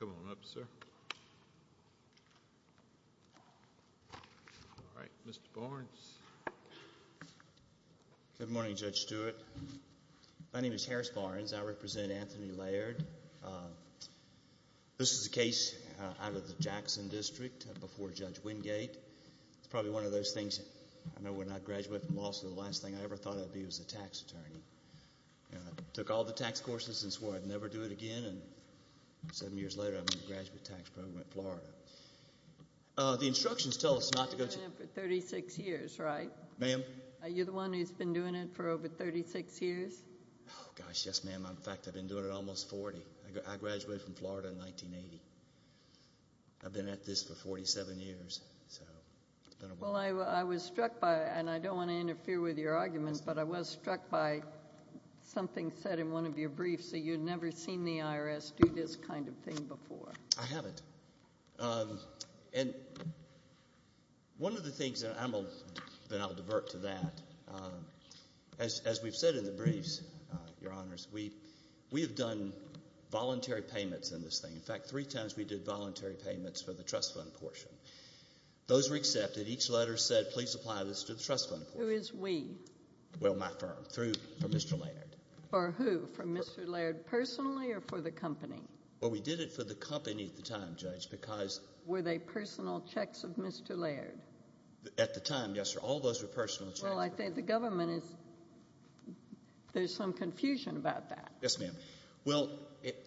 Come on up, sir. All right, Mr. Barnes. Good morning, Judge Stewart. My name is Harris Anthony Laird. This is a case out of the Jackson District before Judge Wingate. It's probably one of those things, I remember when I graduated from law school, the last thing I ever thought I'd be was a tax attorney. I took all the tax courses and swore I'd never do it again and seven years later I'm in the graduate tax program at Florida. The instructions tell us not to go to... You've been doing it for 36 years, right? Ma'am? Are you the one who's been doing it for over 36 years? Oh, gosh, yes, ma'am. In fact, I've been doing it almost 40. I graduated from Florida in 1980. I've been at this for 47 years, so it's been a while. Well, I was struck by, and I don't want to interfere with your argument, but I was struck by something said in one of your briefs that you'd never seen the IRS do this kind of thing before. I haven't. One of the things, and then I'll divert to that, as we've said in the briefs, Your Honors, we have done voluntary payments in this thing. In fact, three times we did voluntary payments for the trust fund portion. Those were accepted. Each letter said, please apply this to the trust fund portion. Who is we? Well, my firm, for Mr. Laird. For who? For Mr. Laird personally or for the company? Well, we did it for the company at the time, Judge, because... Were they personal checks of Mr. Laird? At the time, yes, sir. All those were personal checks. Well, I think the government is... There's some confusion about that. Yes, ma'am. Well,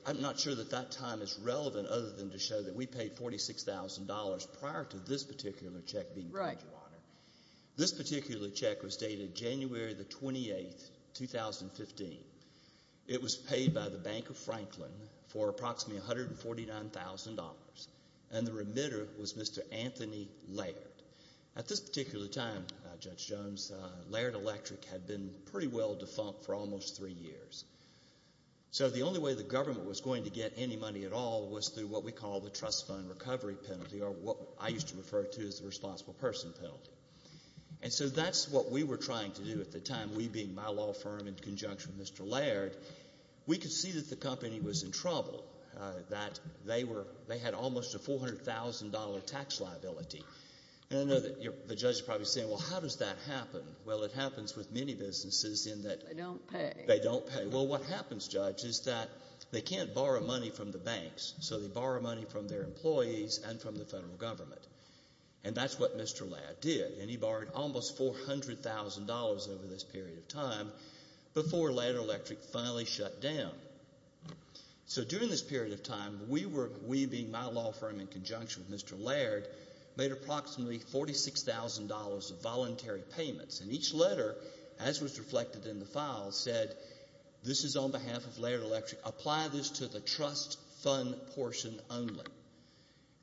I'm not sure that that time is relevant other than to show that we paid $46,000 prior to this particular check being paid, Your Honor. This particular check was dated January the 28th, 2015. It was paid by the Bank of Franklin for approximately $149,000. The remitter was Mr. Anthony Laird. At this particular time, Judge Jones, Laird Electric had been pretty well defunct for almost three years. The only way the government was going to get any money at all was through what we call the trust fund recovery penalty or what I used to refer to as the responsible person penalty. And so that's what we were trying to do at the time, we being my law firm in conjunction with Mr. Laird. We could see that the company was in trouble, that they were... They had almost a $400,000 tax liability. And I know that the Judge is probably saying, well, how does that happen? Well, it happens with many businesses in that... They don't pay. They don't pay. Well, what happens, Judge, is that they can't borrow money from the banks, so they borrow money from their employees and from the federal government. And that's what Mr. Laird did. And he borrowed almost $400,000 over this period of time before Laird Electric finally shut down. So during this period of time, we were... We being my law firm in conjunction with Mr. Laird, made approximately $46,000 of voluntary payments. And each letter, as was reflected in the file, said, this is on behalf of Laird Electric. Apply this to the company.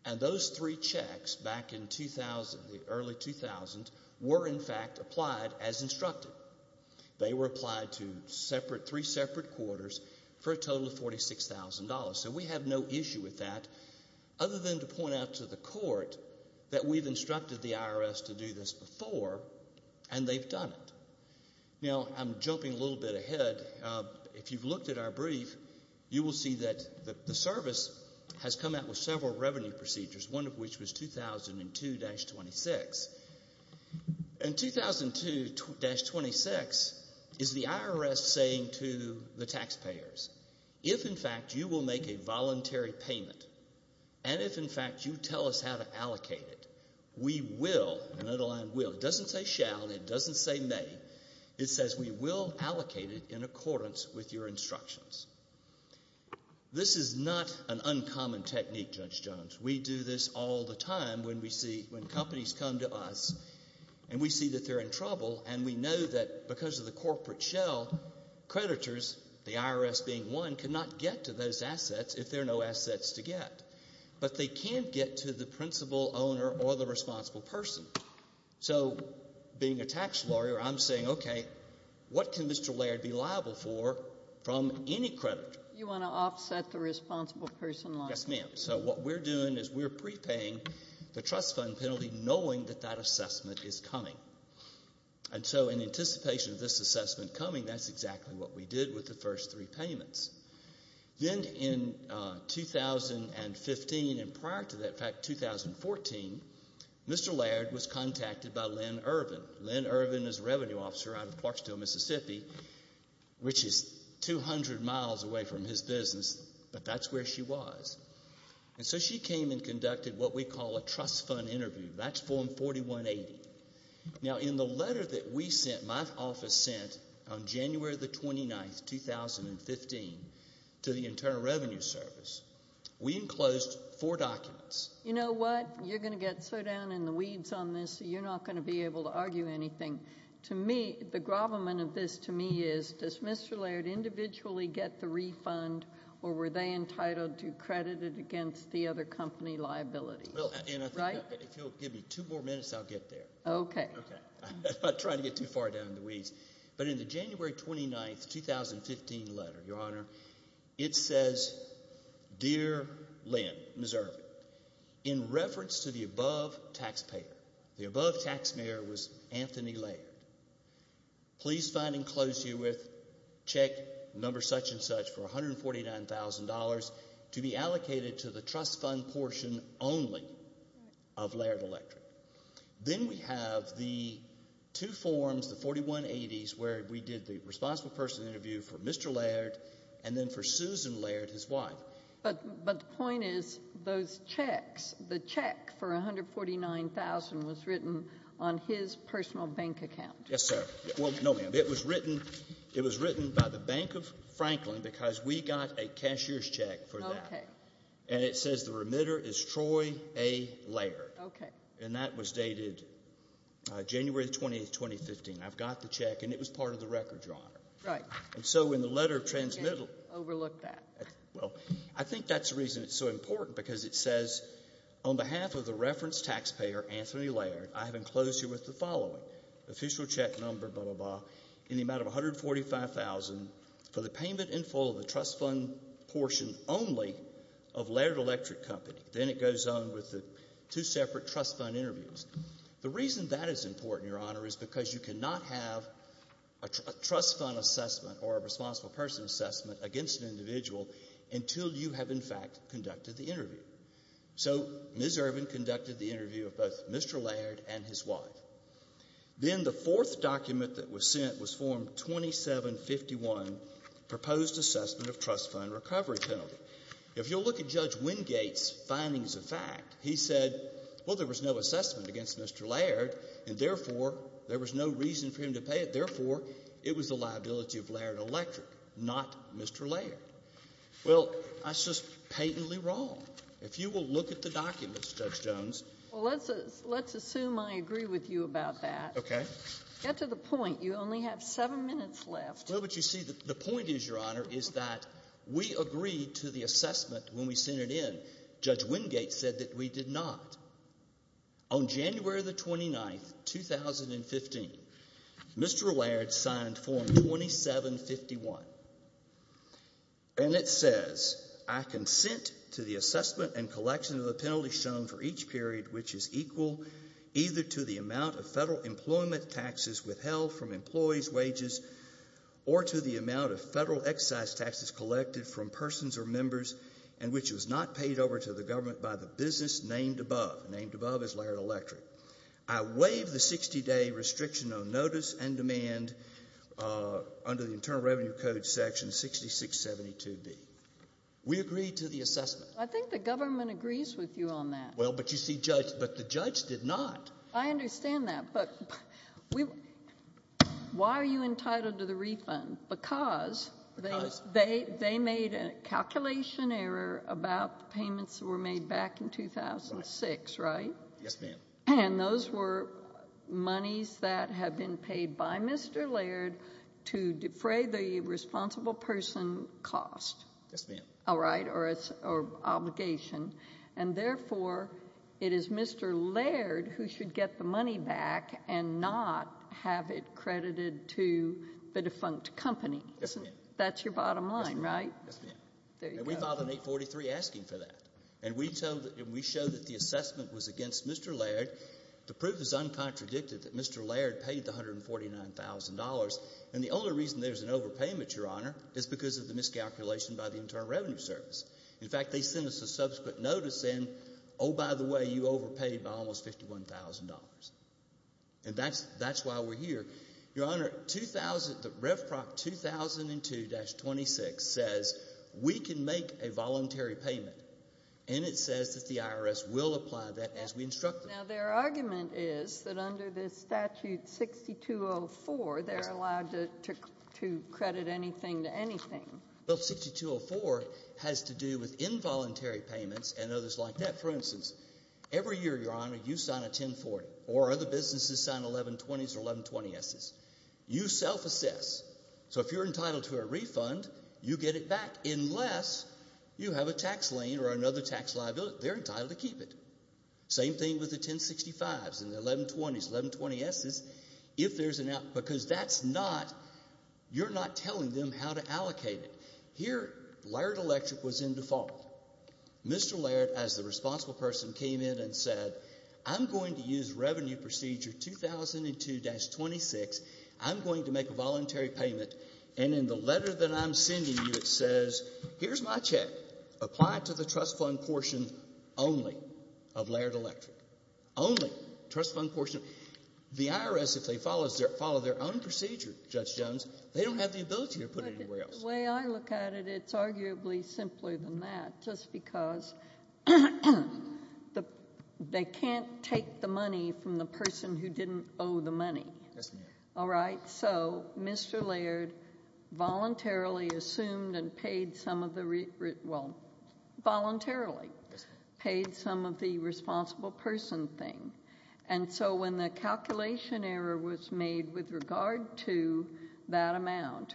And those three checks back in 2000, the early 2000s, were in fact applied as instructed. They were applied to separate... Three separate quarters for a total of $46,000. So we have no issue with that other than to point out to the court that we've instructed the IRS to do this before, and they've done it. Now, I'm jumping a little bit ahead. If you've looked at our brief, you will see that the service has come out with several revenue procedures, one of which was 2002-26. In 2002-26, is the IRS saying to the taxpayers, if in fact you will make a voluntary payment, and if in fact you tell us how to allocate it, we will... Another line, will. It doesn't say shall, and it doesn't say may. It says we will allocate it in accordance with your instructions. This is not an uncommon technique, Judge Jones. We do this all the time when we see, when companies come to us, and we see that they're in trouble, and we know that because of the corporate shell, creditors, the IRS being one, cannot get to those assets if there are no assets to get. But they can get to the principal owner or the responsible person. So being a tax lawyer, I'm saying, okay, what can Mr. Laird be liable for from any creditor? You want to offset the responsible person liability. Yes, ma'am. So what we're doing is we're prepaying the trust fund penalty knowing that that assessment is coming. And so in anticipation of this assessment coming, that's exactly what we did with the first three payments. Then in 2015, and prior to that, in fact, 2014, Mr. Laird was contacted by Lynn Irvin. Lynn Irvin is a revenue officer out of Clarksdale, Mississippi, which is 200 miles away from his business, but that's where she was. And so she came and conducted what we call a trust fund interview. That's form 4180. Now in the letter that we sent, my office sent, on January the 29th, 2015, to the Internal Revenue Service, we enclosed four documents. You know what? You're going to get so down in the weeds on this, you're not going to be able to argue anything. To me, the grovelment of this to me is, does Mr. Laird individually get the refund, or were they entitled to credit it against the other company liabilities? Right? If you'll give me two more minutes, I'll get there. Okay. I'm not trying to get too far down in the weeds. But in the January 29th, 2015 letter, Your Honor, it says, Dear Lynn, Ms. Irvin, in reference to the above taxpayer, the above taxpayer was Anthony Laird, please find and close you with, check number such and such for $149,000 to be allocated to the trust fund portion only of Laird Electric. Then we have the two forms, the 4180s, where we did the responsible person interview for Mr. Laird and then for Susan Laird, his wife. But the point is, those checks, the check for $149,000 was written on his personal bank account. Yes, sir. No, ma'am. It was written by the Bank of Franklin because we got a cashier's check for that. Okay. And it says the remitter is Troy A. Laird. Okay. And that was dated January 20th, 2015. I've got the check and it was part of the record, Your Honor. Right. And so in the letter of transmittal. I didn't overlook that. Well, I think that's the reason it's so important because it says, on behalf of the reference taxpayer, Anthony Laird, I have enclosed you with the following, official check number, blah, blah, blah, in the amount of $145,000 for the payment in full of the Then it goes on with the two separate trust fund interviews. The reason that is important, Your Honor, is because you cannot have a trust fund assessment or a responsible person assessment against an individual until you have, in fact, conducted the interview. So Ms. Irvin conducted the interview of both Mr. Laird and his wife. Then the fourth document that was sent was Form 2751, proposed assessment of trust fund recovery penalty. If you'll look at Judge Wingate's findings of fact, he said, well, there was no assessment against Mr. Laird and, therefore, there was no reason for him to pay it. Therefore, it was the liability of Laird Electric, not Mr. Laird. Well, that's just patently wrong. If you will look at the documents, Judge Jones. Well, let's assume I agree with you about that. Okay. Get to the point. You only have seven minutes left. Well, but you see, the we agreed to the assessment when we sent it in. Judge Wingate said that we did not. On January the 29th, 2015, Mr. Laird signed Form 2751. And it says, I consent to the assessment and collection of the penalty shown for each period which is equal either to the amount of federal employment taxes withheld from employees' wages or to the amount of federal excise taxes collected from persons or members and which was not paid over to the government by the business named above. Named above is Laird Electric. I waive the 60-day restriction on notice and demand under the Internal Revenue Code section 6672B. We agreed to the assessment. I think the government agrees with you on that. Well, but you see, Judge, but the judge did not. I understand that. But we why are you entitled to the refund? Because the government says they made a calculation error about payments that were made back in 2006, right? Yes, ma'am. And those were monies that have been paid by Mr. Laird to defray the responsible person cost. Yes, ma'am. All right? Or obligation. And therefore, it is Mr. Laird who should get the money back and not have it credited to the defunct company. Yes, ma'am. That's your bottom line, right? Yes, ma'am. There you go. And we filed an 843 asking for that. And we showed that the assessment was against Mr. Laird. The proof is uncontradicted that Mr. Laird paid the $149,000. And the only reason there's an overpayment, Your Honor, is because of the miscalculation by the Internal Revenue Service. In fact, they sent us a subsequent notice saying, oh, by the way, you overpaid by almost $51,000. And that's why we're here. Your Honor, RevPROC 2002-26 says we can make a voluntary payment. And it says that the IRS will apply that as we instruct them. Now, their argument is that under this statute 6204, they're allowed to credit anything to anything. Well, 6204 has to do with involuntary payments and others like that. For instance, every year, Your Honor, you sign a 1040 or other businesses sign 1120s or 1120Ss. You self-assess. So if you're entitled to a refund, you get it back unless you have a tax lien or another tax liability. They're entitled to keep it. Same thing with the 1065s and the 1120s, 1120Ss. If there's an out, because that's not, you're not telling them how to allocate it. Here, Laird Electric was in default. Mr. Laird, as the responsible person, came in and said, I'm going to use Revenue Procedure 2002-26. I'm going to make a voluntary payment. And in the letter that I'm sending you, it says, here's my check. Apply it to the trust fund portion only of Laird Electric. Only trust fund portion. The IRS, if they follow their own procedure, Judge Jones, they don't have the ability to put it anywhere else. The way I look at it, it's arguably simpler than that, just because they can't take the money from the person who didn't owe the money. All right? So Mr. Laird voluntarily assumed and paid some of the, well, voluntarily paid some of the responsible person thing. And so when the calculation error was made with regard to that amount,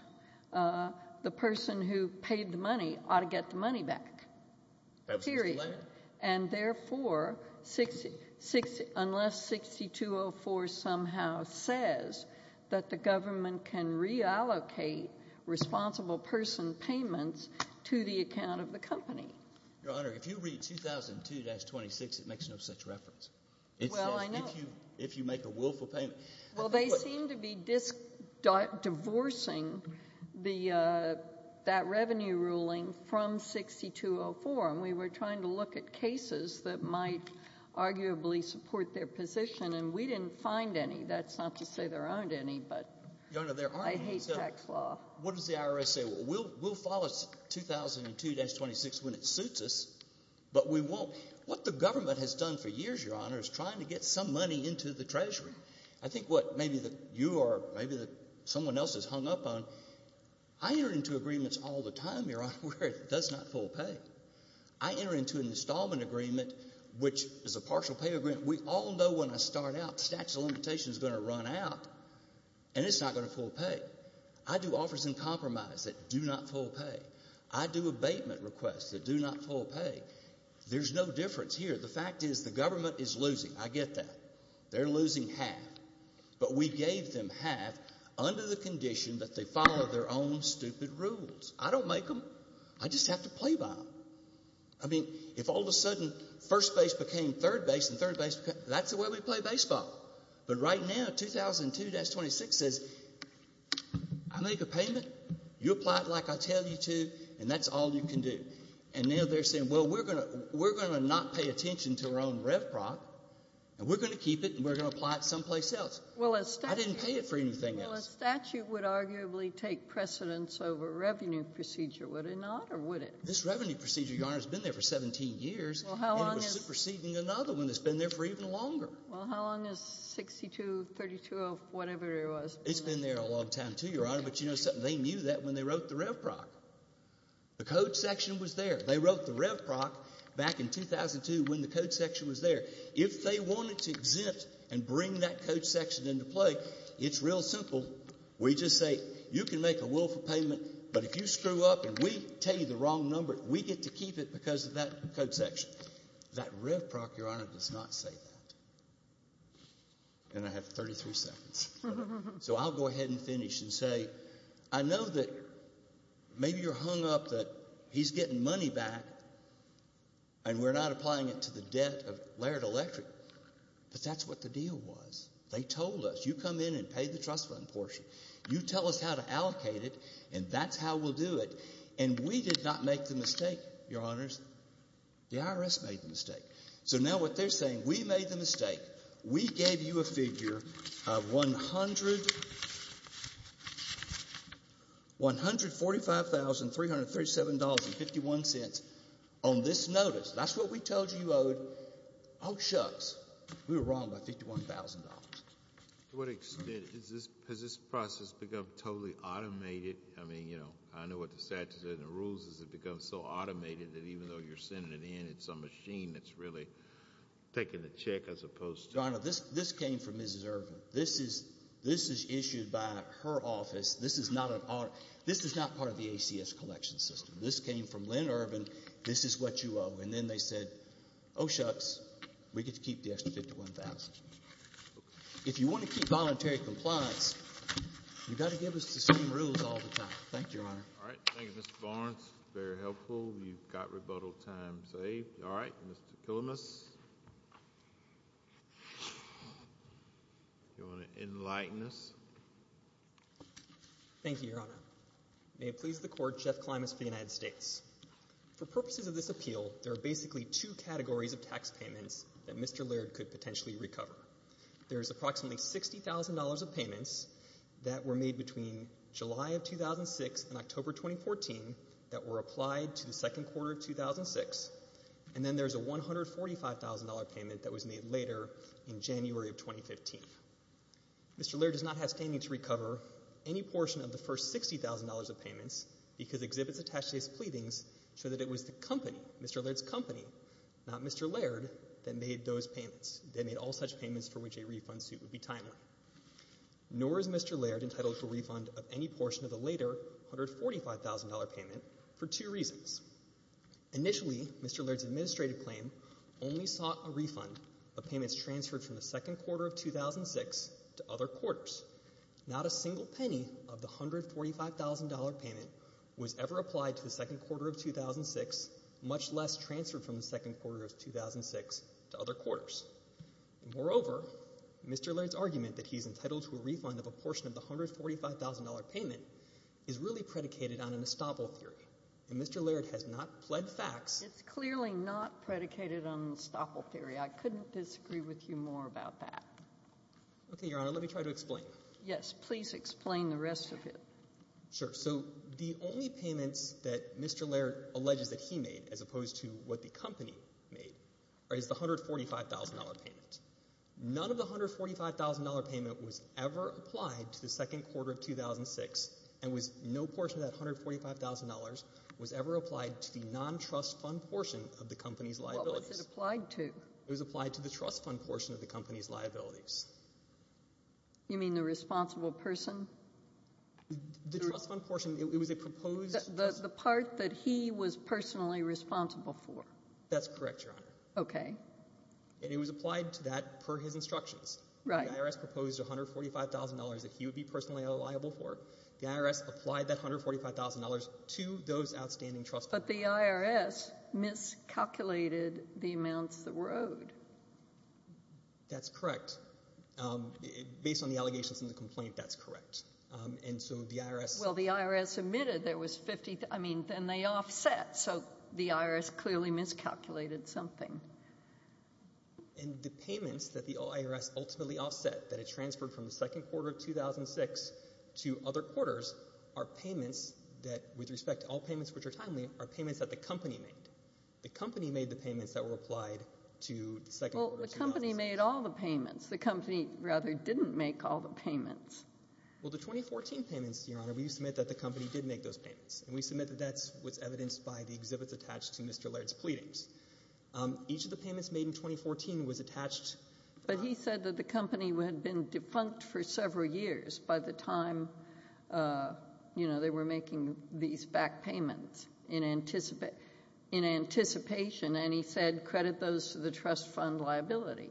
the person who paid the money ought to get the money back. Period. And therefore, unless 6204 somehow says that the government can reallocate responsible person payments to the account of the company. Your Honor, if you read 2002-26, it makes no such reference. Well, I know. If you make a willful payment. Well, they seem to be divorcing the, that revenue ruling from 6204. And we were trying to look at cases that might arguably support their position, and we didn't find any. That's not to say there aren't any, but I hate Jack's Law. What does the IRS say? Well, we'll follow 2002-26 when it suits us, but we won't. What the government has done for years, Your Honor, is trying to get some money into the Treasury. I think what maybe you or maybe someone else has hung up on, I enter into agreements all the time, Your Honor, where it does not full pay. I enter into an installment agreement, which is a partial pay agreement. We all know when I start out, the statute of limitations is going to run out, and it's not going to full pay. I do offers in compromise that do not full pay. I do abatement requests that do not full pay. There's no difference here. The fact is the government is losing. I get that. They're losing half, but we gave them half under the condition that they follow their own stupid rules. I don't make them. I just have to play by them. I mean, if all of a sudden first base became third base and third base became, that's the way we play baseball. But right now, 2002-26 says, I make a payment. You apply it like I tell you to, and that's all you can do. And now they're saying, well, we're going to not pay attention to our own REVPROC, and we're going to keep it, and we're going to apply it someplace else. I didn't pay it for anything else. Well, a statute would arguably take precedence over a revenue procedure, would it not, or would it? This revenue procedure, Your Honor, has been there for 17 years, and it was superseding another one that's been there for even longer. Well, how long is 62-32 of whatever it was? It's been there a long time, too, Your Honor, but you know something? They knew that when they wrote the REVPROC. The code section was there. They wrote the REVPROC back in 2002 when the code section was there. If they wanted to exempt and bring that code section into play, it's real simple. We just say, you can make a willful payment, but if you screw up and we tell you the wrong number, we get to keep it because of that code section. That REVPROC, Your Honor, does not say that. And I have 33 seconds, so I'll go ahead and finish and say, I know that maybe you're hung up that he's getting money back, and we're not applying it to the debt of Laird Electric, but that's what the deal was. They told us, you come in and pay the trust fund portion. You tell us how to allocate it, and that's how we'll do it. And we did not make the mistake, Your Honors. The IRS made the mistake. So now what they're saying, we made the mistake. We gave you a figure of $145,337.51 on this notice. That's what we told you you owed. Oh, shucks. We were wrong by $51,000. To what extent has this process become totally automated? I mean, you know, I know what the statute says in the rules is it becomes so automated that even though you're sending it in, it's a machine that's really taking a check as opposed to ---- Your Honor, this came from Mrs. Irvin. This is issued by her office. This is not part of the ACS collection system. This came from Lynn Irvin. This is what you owe. And then they said, oh, shucks, we get to keep the extra $51,000. If you want to keep voluntary compliance, you've got to give us the same rules all the time. Thank you, Your Honor. All right. Thank you, Mr. Barnes. Very helpful. You've got rebuttal time saved. All right. Mr. Killamas, do you want to enlighten us? Thank you, Your Honor. May it please the Court, Jeff Killamas for the United States. For purposes of this appeal, there are basically two categories of tax payments that Mr. Laird could potentially recover. There's approximately $60,000 of payments that were made between July of 2006 and October 2014 that were applied to the second quarter of 2006, and then there's a $145,000 payment that was made later in January of 2015. Mr. Laird does not have standing to recover any portion of the first $60,000 of payments because exhibits attached to his pleadings show that it was the company, Mr. Laird's company, not Mr. Laird, that made those payments, that made all such payments for which a refund suit would be timely. Nor is Mr. Laird entitled for refund of any portion of the later $145,000 payment for two reasons. Initially, Mr. Laird's administrative claim only sought a refund of payments transferred from the second quarter of 2006 to other quarters. Not a single penny of the $145,000 payment was ever applied to the second quarter of 2006, much less transferred from the second quarter of 2006 to other quarters. Moreover, Mr. Laird's argument that he's entitled to a refund of a portion of the $145,000 payment is really predicated on an estoppel theory, and Mr. Laird has not pled facts. It's clearly not predicated on an estoppel theory. I couldn't disagree with you more about that. Okay, Your Honor, let me try to explain. Yes, please explain the rest of it. Sure. So the only payments that Mr. Laird alleges that he made, as opposed to what the company made, is the $145,000 payment. None of the $145,000 payment was ever applied to the second quarter of 2006, and no portion of that $145,000 was ever applied to the non-trust fund portion of the company's liabilities. What was it applied to? It was applied to the trust fund portion of the company's liabilities. You mean the responsible person? The trust fund portion, it was a proposed— The part that he was personally responsible for. That's correct, Your Honor. Okay. And it was applied to that per his instructions. Right. The IRS proposed $145,000 that he would be personally liable for. The IRS applied that $145,000 to those outstanding trust funds. But the IRS miscalculated the amounts that were owed. That's correct. Based on the allegations in the complaint, that's correct. And so the IRS— Well, the IRS admitted there was 50—I mean, then they offset, so the IRS clearly miscalculated something. And the payments that the IRS ultimately offset, that it transferred from the second quarter of 2006 to other quarters, are payments that, with respect to all payments which are timely, are payments that the company made. The company made the payments that were applied to the second quarter of 2006. Well, the company made all the payments. The company, rather, didn't make all the payments. Well, the 2014 payments, Your Honor, we submit that the company did make those payments. And we submit that that was evidenced by the exhibits attached to Mr. Laird's pleadings. Each of the payments made in 2014 was attached— But he said that the company had been defunct for several years by the time, you know, they were making these back payments in anticipation. And he said, credit those to the trust fund liability.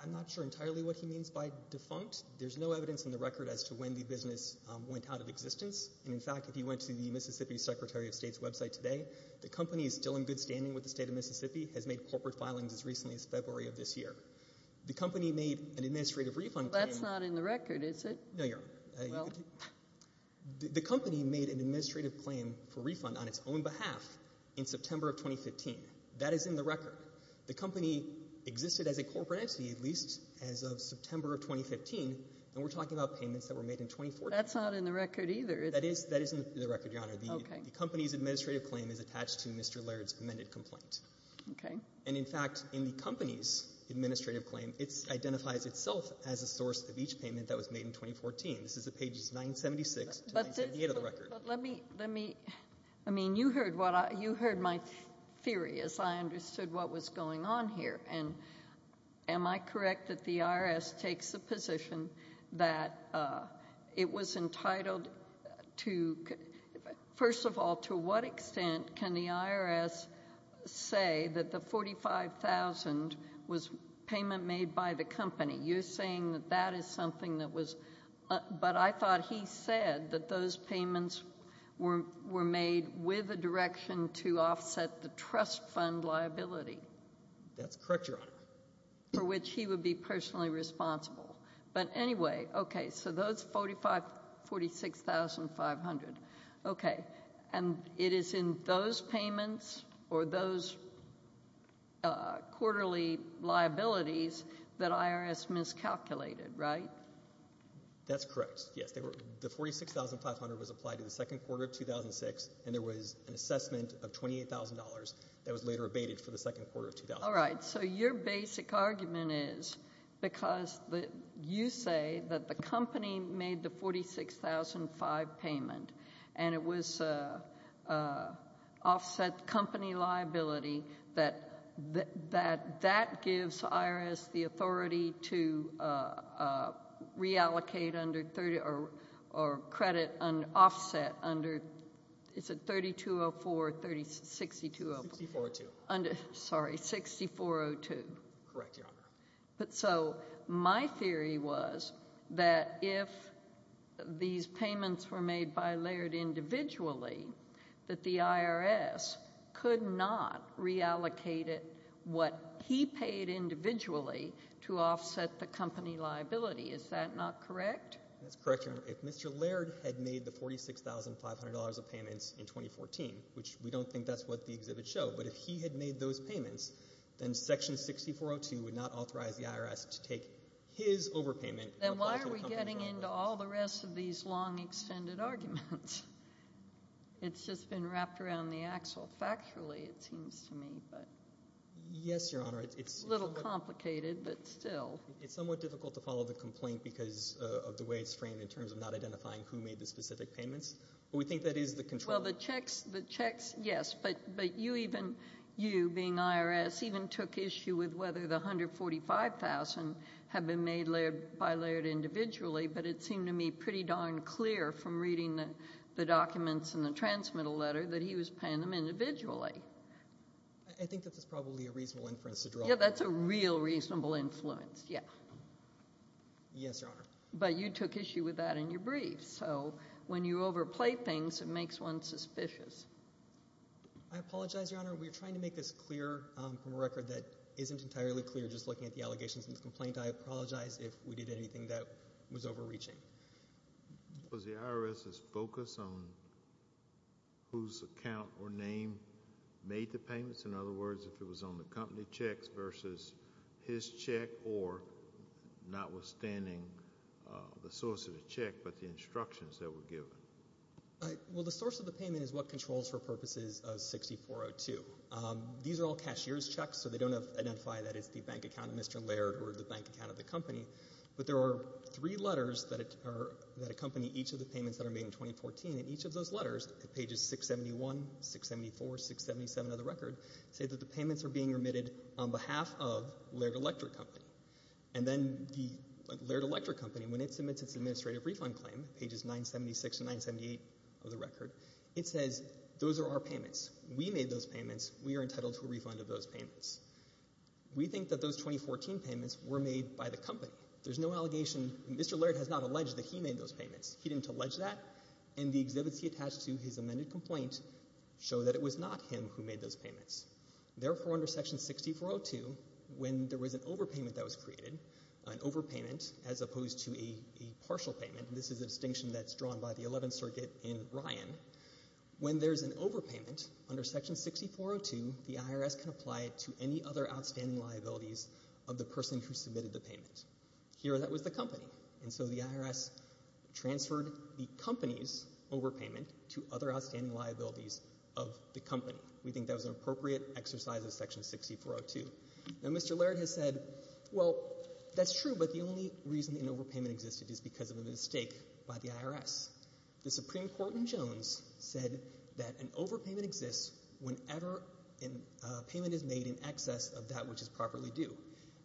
I'm not sure entirely what he means by defunct. There's no evidence in the record as to when the business went out of existence. And, in fact, if you went to the Mississippi Secretary of State's website today, the company is still in good standing with the state of Mississippi, has made corporate filings as recently as February of this year. The company made an administrative refund— That's not in the record, is it? No, Your Honor. Well— That is in the record. The company existed as a corporate entity at least as of September of 2015. And we're talking about payments that were made in 2014. That's not in the record either, is it? That is in the record, Your Honor. Okay. The company's administrative claim is attached to Mr. Laird's amended complaint. Okay. And, in fact, in the company's administrative claim, it identifies itself as a source of each payment that was made in 2014. This is at pages 976 to 978 of the record. But let me— I mean, you heard my theory as I understood what was going on here. And am I correct that the IRS takes the position that it was entitled to— First of all, to what extent can the IRS say that the $45,000 was payment made by the company? You're saying that that is something that was— But I thought he said that those payments were made with a direction to offset the trust fund liability. That's correct, Your Honor. For which he would be personally responsible. But anyway, okay. So those $45,000—$46,500. Okay. And it is in those payments or those quarterly liabilities that IRS miscalculated, right? That's correct. Yes. The $46,500 was applied in the second quarter of 2006, and there was an assessment of $28,000 that was later abated for the second quarter of 2000. All right. So your basic argument is because you say that the company made the $46,500 payment and it was offset company liability, that that gives IRS the authority to reallocate or credit an offset under— Is it 3204 or 6402? 6402. Sorry, 6402. Correct, Your Honor. But so my theory was that if these payments were made by Laird individually, that the IRS could not reallocate what he paid individually to offset the company liability. Is that not correct? That's correct, Your Honor. If Mr. Laird had made the $46,500 of payments in 2014, which we don't think that's what the exhibits show, but if he had made those payments, then Section 6402 would not authorize the IRS to take his overpayment— Then why are we getting into all the rest of these long, extended arguments? It's just been wrapped around the axle factually, it seems to me. Yes, Your Honor. It's a little complicated, but still. It's somewhat difficult to follow the complaint because of the way it's framed in terms of not identifying who made the specific payments, but we think that is the control. Well, the checks, yes, but you even, you being IRS, even took issue with whether the $145,000 had been made by Laird individually, but it seemed to me pretty darn clear from reading the documents in the transmittal letter that he was paying them individually. I think that's probably a reasonable inference to draw. Yeah, that's a real reasonable influence, yeah. Yes, Your Honor. But you took issue with that in your brief, so when you overplay things, it makes one suspicious. I apologize, Your Honor. We're trying to make this clear from a record that isn't entirely clear. Just looking at the allegations in the complaint, I apologize if we did anything that was overreaching. Was the IRS's focus on whose account or name made the payments? In other words, if it was on the company checks versus his check or notwithstanding the source of the check, but the instructions that were given. Well, the source of the payment is what controls for purposes of 6402. These are all cashier's checks, so they don't identify that it's the bank account of Mr. Laird or the bank account of the company, but there are three letters that accompany each of the payments that are made in 2014, and each of those letters, pages 671, 674, 677 of the record, say that the payments are being remitted on behalf of Laird Electric Company, and then the Laird Electric Company, when it submits its administrative refund claim, pages 976 and 978 of the record, it says, those are our payments. We made those payments. We are entitled to a refund of those payments. We think that those 2014 payments were made by the company. There's no allegation. Mr. Laird has not alleged that he made those payments. He didn't allege that, and the exhibits he attached to his amended complaint show that it was not him who made those payments. Therefore, under Section 6402, when there was an overpayment that was created, an overpayment as opposed to a partial payment, and this is a distinction that's drawn by the 11th Circuit in Ryan, when there's an overpayment under Section 6402, the IRS can apply it to any other outstanding liabilities of the person who submitted the payment. Here, that was the company, and so the IRS transferred the company's overpayment to other outstanding liabilities of the company. We think that was an appropriate exercise of Section 6402. Now, Mr. Laird has said, well, that's true, but the only reason an overpayment existed is because of a mistake by the IRS. The Supreme Court in Jones said that an overpayment exists whenever a payment is made in excess of that which is properly due.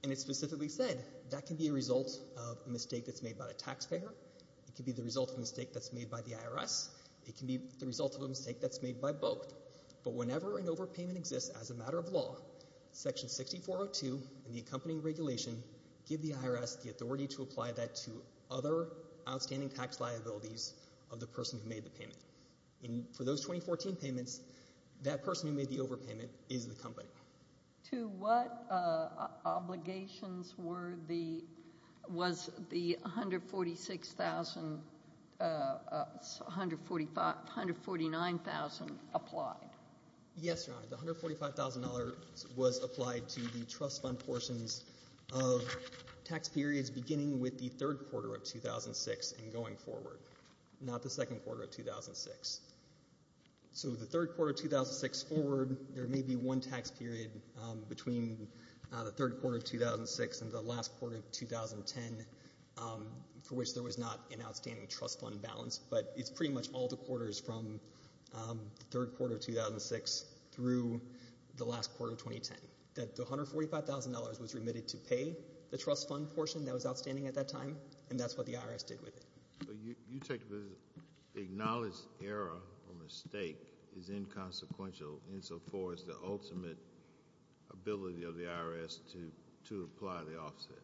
And it specifically said that can be a result of a mistake that's made by a taxpayer. It can be the result of a mistake that's made by the IRS. It can be the result of a mistake that's made by both. But whenever an overpayment exists as a matter of law, Section 6402 and the accompanying regulation give the IRS the authority to apply that to other outstanding tax liabilities of the person who made the payment. And for those 2014 payments, that person who made the overpayment is the company. To what obligations were the... was the $146,000... $149,000 applied? Yes, Your Honor, the $145,000 was applied to the trust fund portions of tax periods beginning with the third quarter of 2006 and going forward, not the second quarter of 2006. So the third quarter of 2006 forward, there may be one tax period between the third quarter of 2006 and the last quarter of 2010 for which there was not an outstanding trust fund balance, but it's pretty much all the quarters from the third quarter of 2006 through the last quarter of 2010. The $145,000 was remitted to pay the trust fund portion that was outstanding at that time, and that's what the IRS did with it. But you take the... acknowledge error or mistake is inconsequential insofar as the ultimate ability of the IRS to apply the offset.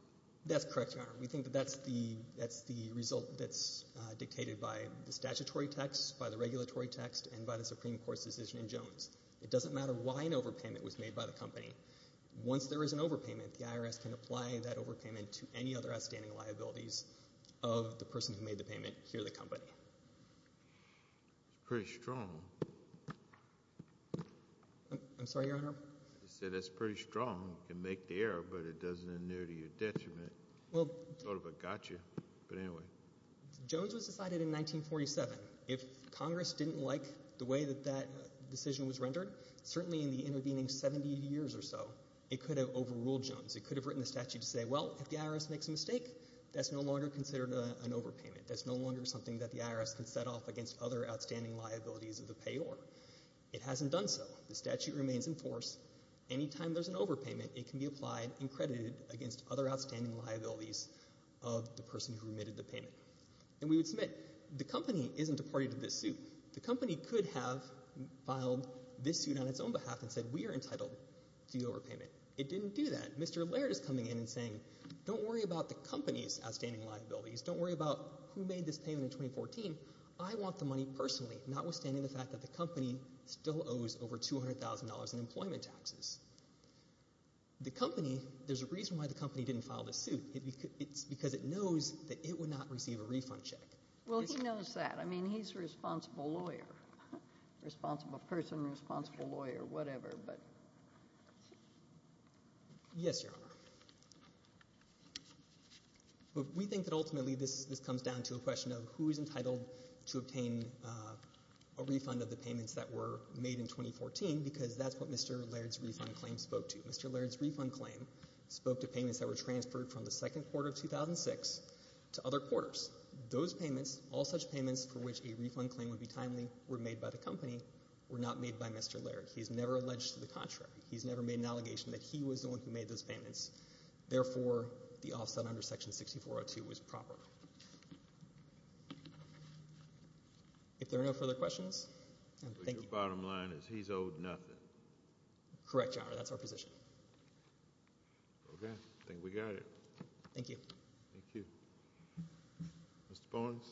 That's correct, Your Honor. We think that that's the result that's dictated by the statutory text, by the regulatory text, and by the Supreme Court's decision in Jones. It doesn't matter why an overpayment was made by the company. Once there is an overpayment, the IRS can apply that overpayment to any other outstanding liabilities of the person who made the payment here at the company. That's pretty strong. I'm sorry, Your Honor? You said, that's pretty strong. You can make the error, but it doesn't adhere to your detriment. Sort of a gotcha, but anyway. Jones was decided in 1947. If Congress didn't like the way that that decision was rendered, certainly in the intervening 70 years or so, it could have overruled Jones. It could have written the statute to say, well, if the IRS makes a mistake, that's no longer considered an overpayment. That's no longer something that the IRS can set off against other outstanding liabilities of the payor. It hasn't done so. The statute remains in force. Anytime there's an overpayment, it can be applied and credited against other outstanding liabilities of the person who remitted the payment. And we would submit, the company isn't a party to this suit. The company could have filed this suit on its own behalf and said, we are entitled to the overpayment. It didn't do that. Mr. Laird is coming in and saying, don't worry about the company's outstanding liabilities. Don't worry about who made this payment in 2014. I want the money personally, notwithstanding the fact that the company still owes over $200,000 in employment taxes. The company, there's a reason why the company didn't file this suit. It's because it knows that it would not receive a refund check. Well, he knows that. I mean, he's a responsible lawyer. Responsible person, responsible lawyer, whatever, but... Yes, Your Honor. We think that ultimately this comes down to a question of who is entitled to obtain a refund of the payments that were made in 2014, because that's what Mr. Laird's refund claim spoke to. Mr. Laird's refund claim spoke to payments that were transferred from the second quarter of 2006 to other quarters. Those payments, all such payments for which a refund claim would be timely were made by the company, were not made by Mr. Laird. He's never alleged to the contrary. He's never made an allegation that he was the one who made those payments. Therefore, the offset under Section 6402 was proper. If there are no further questions... Your bottom line is he's owed nothing. Correct, Your Honor. That's our position. Okay. I think we got it. Thank you. Thank you. Mr. Barnes?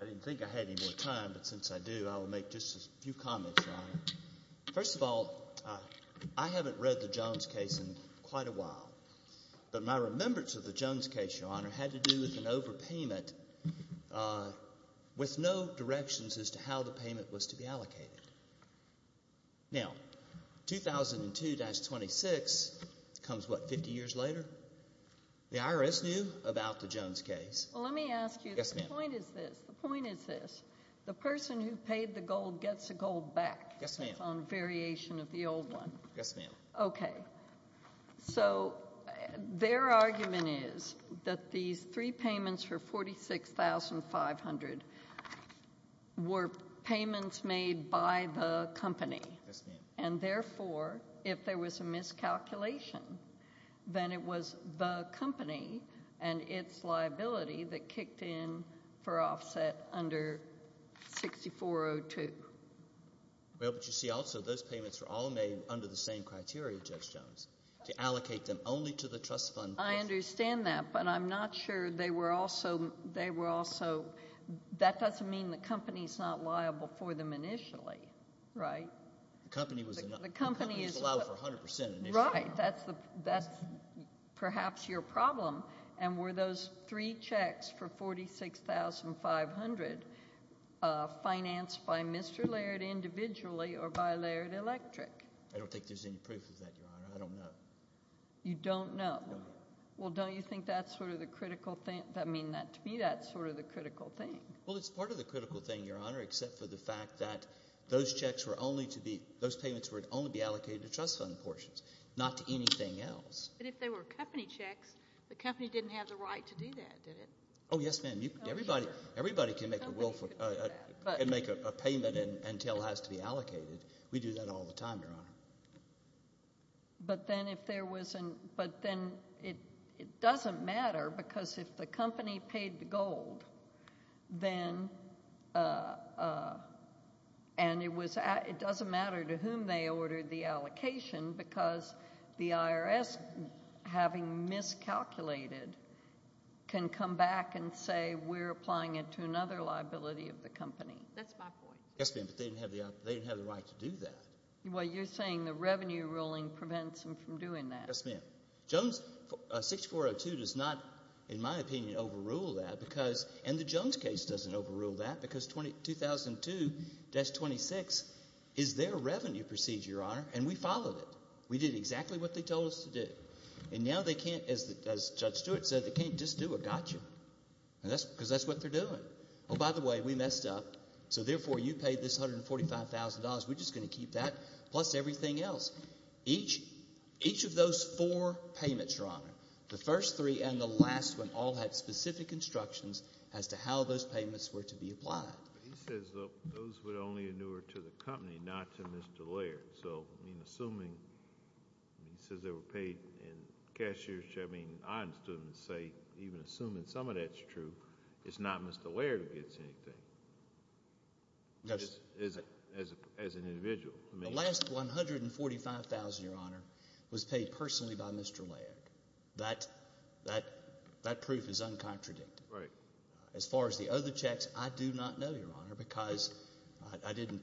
I didn't think I had any more time, but since I do, I will make just a few comments, Your Honor. First of all, I haven't read the Jones case in quite a while, but my remembrance of the Jones case, Your Honor, had to do with an overpayment with no directions as to how the payment was to be allocated. Now, 2002-26 comes, what, 50 years later? The IRS knew about the Jones case. Well, let me ask you. The point is this. The person who paid the gold gets the gold back on variation of the old one. Yes, ma'am. Okay. So, their argument is that these three payments for $46,500 were payments made by the company. Yes, ma'am. And therefore, if there was a miscalculation, then it was the company and its liability that kicked in for offset under 6402. Well, but you see also, those payments were all made under the same criteria, Judge Jones, to allocate them only to the trust fund. I understand that, but I'm not sure they were also That doesn't mean the company's not liable for them initially. Right? The company was allowed for 100% initially. Right. That's perhaps your problem. And were those three checks for $46,500 financed by Mr. Laird individually or by Laird Electric? I don't think there's any proof of that, Your Honor. I don't know. You don't know? Well, don't you think that's sort of the critical thing? I mean, to me, that's sort of the critical thing. Well, it's part of the critical thing, Your Honor, except for the fact that those payments would only be allocated to trust fund portions, not to anything else. But if they were company checks, the company didn't have the right to do that, did it? Oh, yes, ma'am. Everybody can make a payment until it has to be allocated. We do that all the time, Your Honor. But then if there wasn't but then it doesn't matter because if the company paid the gold, then and it was it doesn't matter to whom they ordered the allocation because the IRS, having miscalculated, can come back and say we're applying it to another liability of the company. That's my point. Yes, ma'am, but they didn't have the right to do that. Well, you're saying the revenue ruling prevents them from doing that. Yes, ma'am. Jones 6402 does not, in my opinion, overrule that because and the Jones case doesn't overrule that because 2002-26 is their revenue procedure, Your Honor, and we followed it. We did exactly what they told us to do. And now they can't, as Judge Stewart said, they can't just do a gotcha because that's what they're doing. Oh, by the way, we messed up, so therefore you paid this $145,000. We're just going to keep that plus everything else. Each of those four payments, Your Honor, the first three and the last one all had specific instructions as to how those payments were to be applied. He says those would only inure to the company, not to Mr. Laird. So, I mean, assuming he says they were paid in cashier's check, I mean, I'm still going to say even assuming some of that's true, it's not Mr. Laird who gets anything. As an individual. The last $145,000, Your Honor, was paid personally by Mr. Laird. That proof is uncontradictive. Right. As far as the other checks, I do not know, Your Honor, because I didn't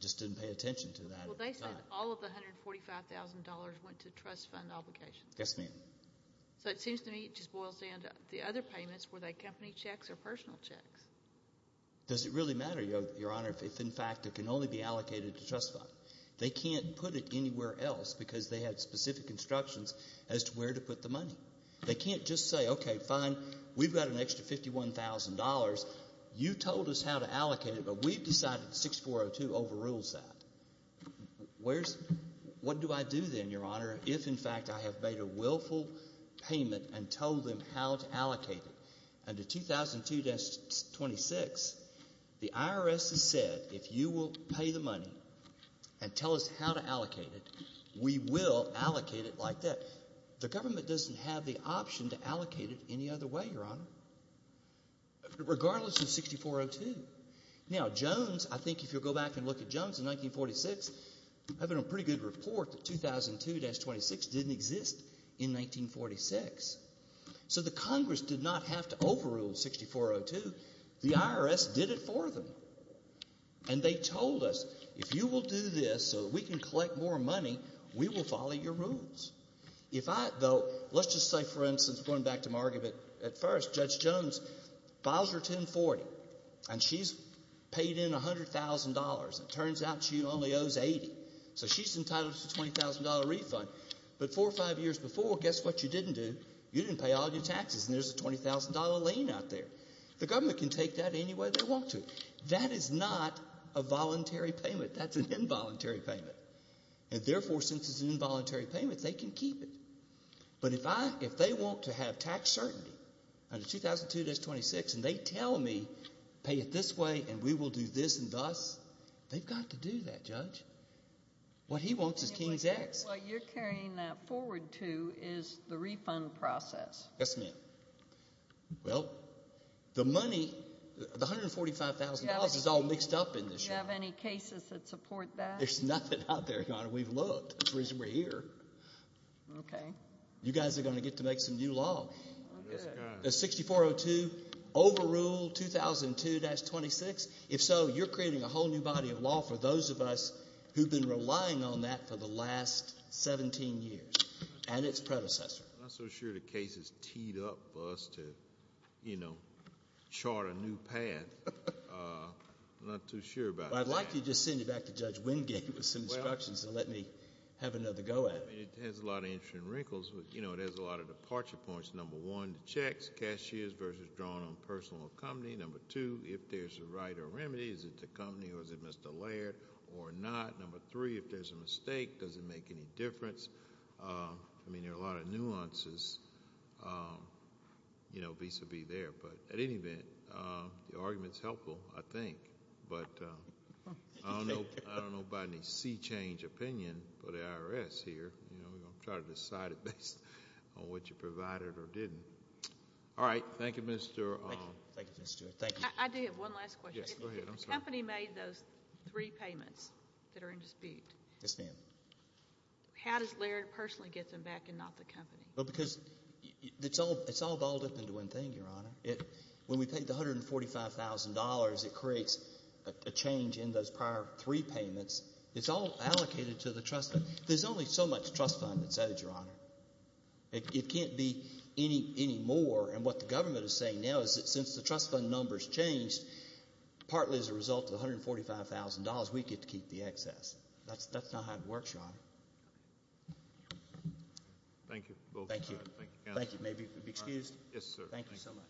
just didn't pay attention to that. Well, they said all of the $145,000 went to trust fund obligations. Yes, ma'am. So it seems to me it just boils down to the other payments, were they company checks or personal checks? Does it really matter, Your Honor, if, in fact, it can only be allocated to trust fund? They can't put it anywhere else because they had specific instructions as to where to put the money. They can't just say, okay, fine, we've got an extra $51,000. You told us how to allocate it, but we've decided 6402 overrules that. What do I do then, Your Honor, if, in fact, I have made a willful payment and told them how to allocate it? Under 2002-26, the IRS has said if you will pay the money and tell us how to allocate it, we will allocate it like that. The government doesn't have the option to allocate it any other way, Your Honor, regardless of 6402. Now, Jones, I think if you go back and look at Jones in 1946, having a pretty good report that 2002-26 didn't exist in 1946. So the Congress did not have to overrule 6402. The IRS did it for them. And they told us, if you will do this so that we can collect more money, we will follow your rules. If I, though, let's just say, for instance, going back to Margaret at first, Judge Jones files her 1040, and she's paid in $100,000. It turns out she only owes $80,000. So she's entitled to a $20,000 refund. But four or five years before, guess what you didn't do? You didn't pay all your taxes. And there's a $20,000 lien out there. The government can take that any way they want to. That is not a voluntary payment. That's an involuntary payment. And therefore, since it's an involuntary payment, they can keep it. But if I, if they want to have tax certainty under 2002-26, and they tell me pay it this way, and we will do this and thus, they've got to do that, Judge. What he wants is King's X. What you're carrying forward to is the refund process. Yes, ma'am. Well, the money, the $145,000 is all mixed up in this. Do you have any cases that support that? There's nothing out there, Your Honor. We've looked. That's the reason we're here. Okay. You guys are going to get to make some new law. 6402, overrule 2002-26. If so, you're creating a whole new body of law for those of us who've been relying on that for the last 17 years, and its predecessor. I'm not so sure the case is teed up for us to, you know, chart a new path. I'm not too sure about that. I'd like to just send you back to Judge Wingate with some instructions and let me have another go at it. It has a lot of interesting wrinkles. You know, there's a lot of departure points. Number one, the checks, cashiers versus drawing on personal company. Number two, if there's a right or remedy, is it the company or is it Mr. Laird or not? Number three, if there's a mistake, does it make any difference? I mean, there are a lot of nuances vis-a-vis there, but at any event, the argument's helpful, I think. But I don't know about any sea-change opinion for the IRS here. We're going to try to decide it based on what you provided or didn't. All right. Thank you, Mr. Thank you, Mr. Stewart. I do have one last question. If the company made those three payments that are in dispute, how does Laird personally get them back and not the company? Because it's all balled up into one thing, Your Honor. When we paid the $145,000, it creates a change in those prior three payments. It's all allocated to the trust fund. There's only so much trust fund that's owed, Your Honor. It can't be is saying now is that since the trust fund numbers changed, partly as a result of the $145,000, we get to keep the excess. That's not how it works, Your Honor. Thank you. Thank you. Thank you so much.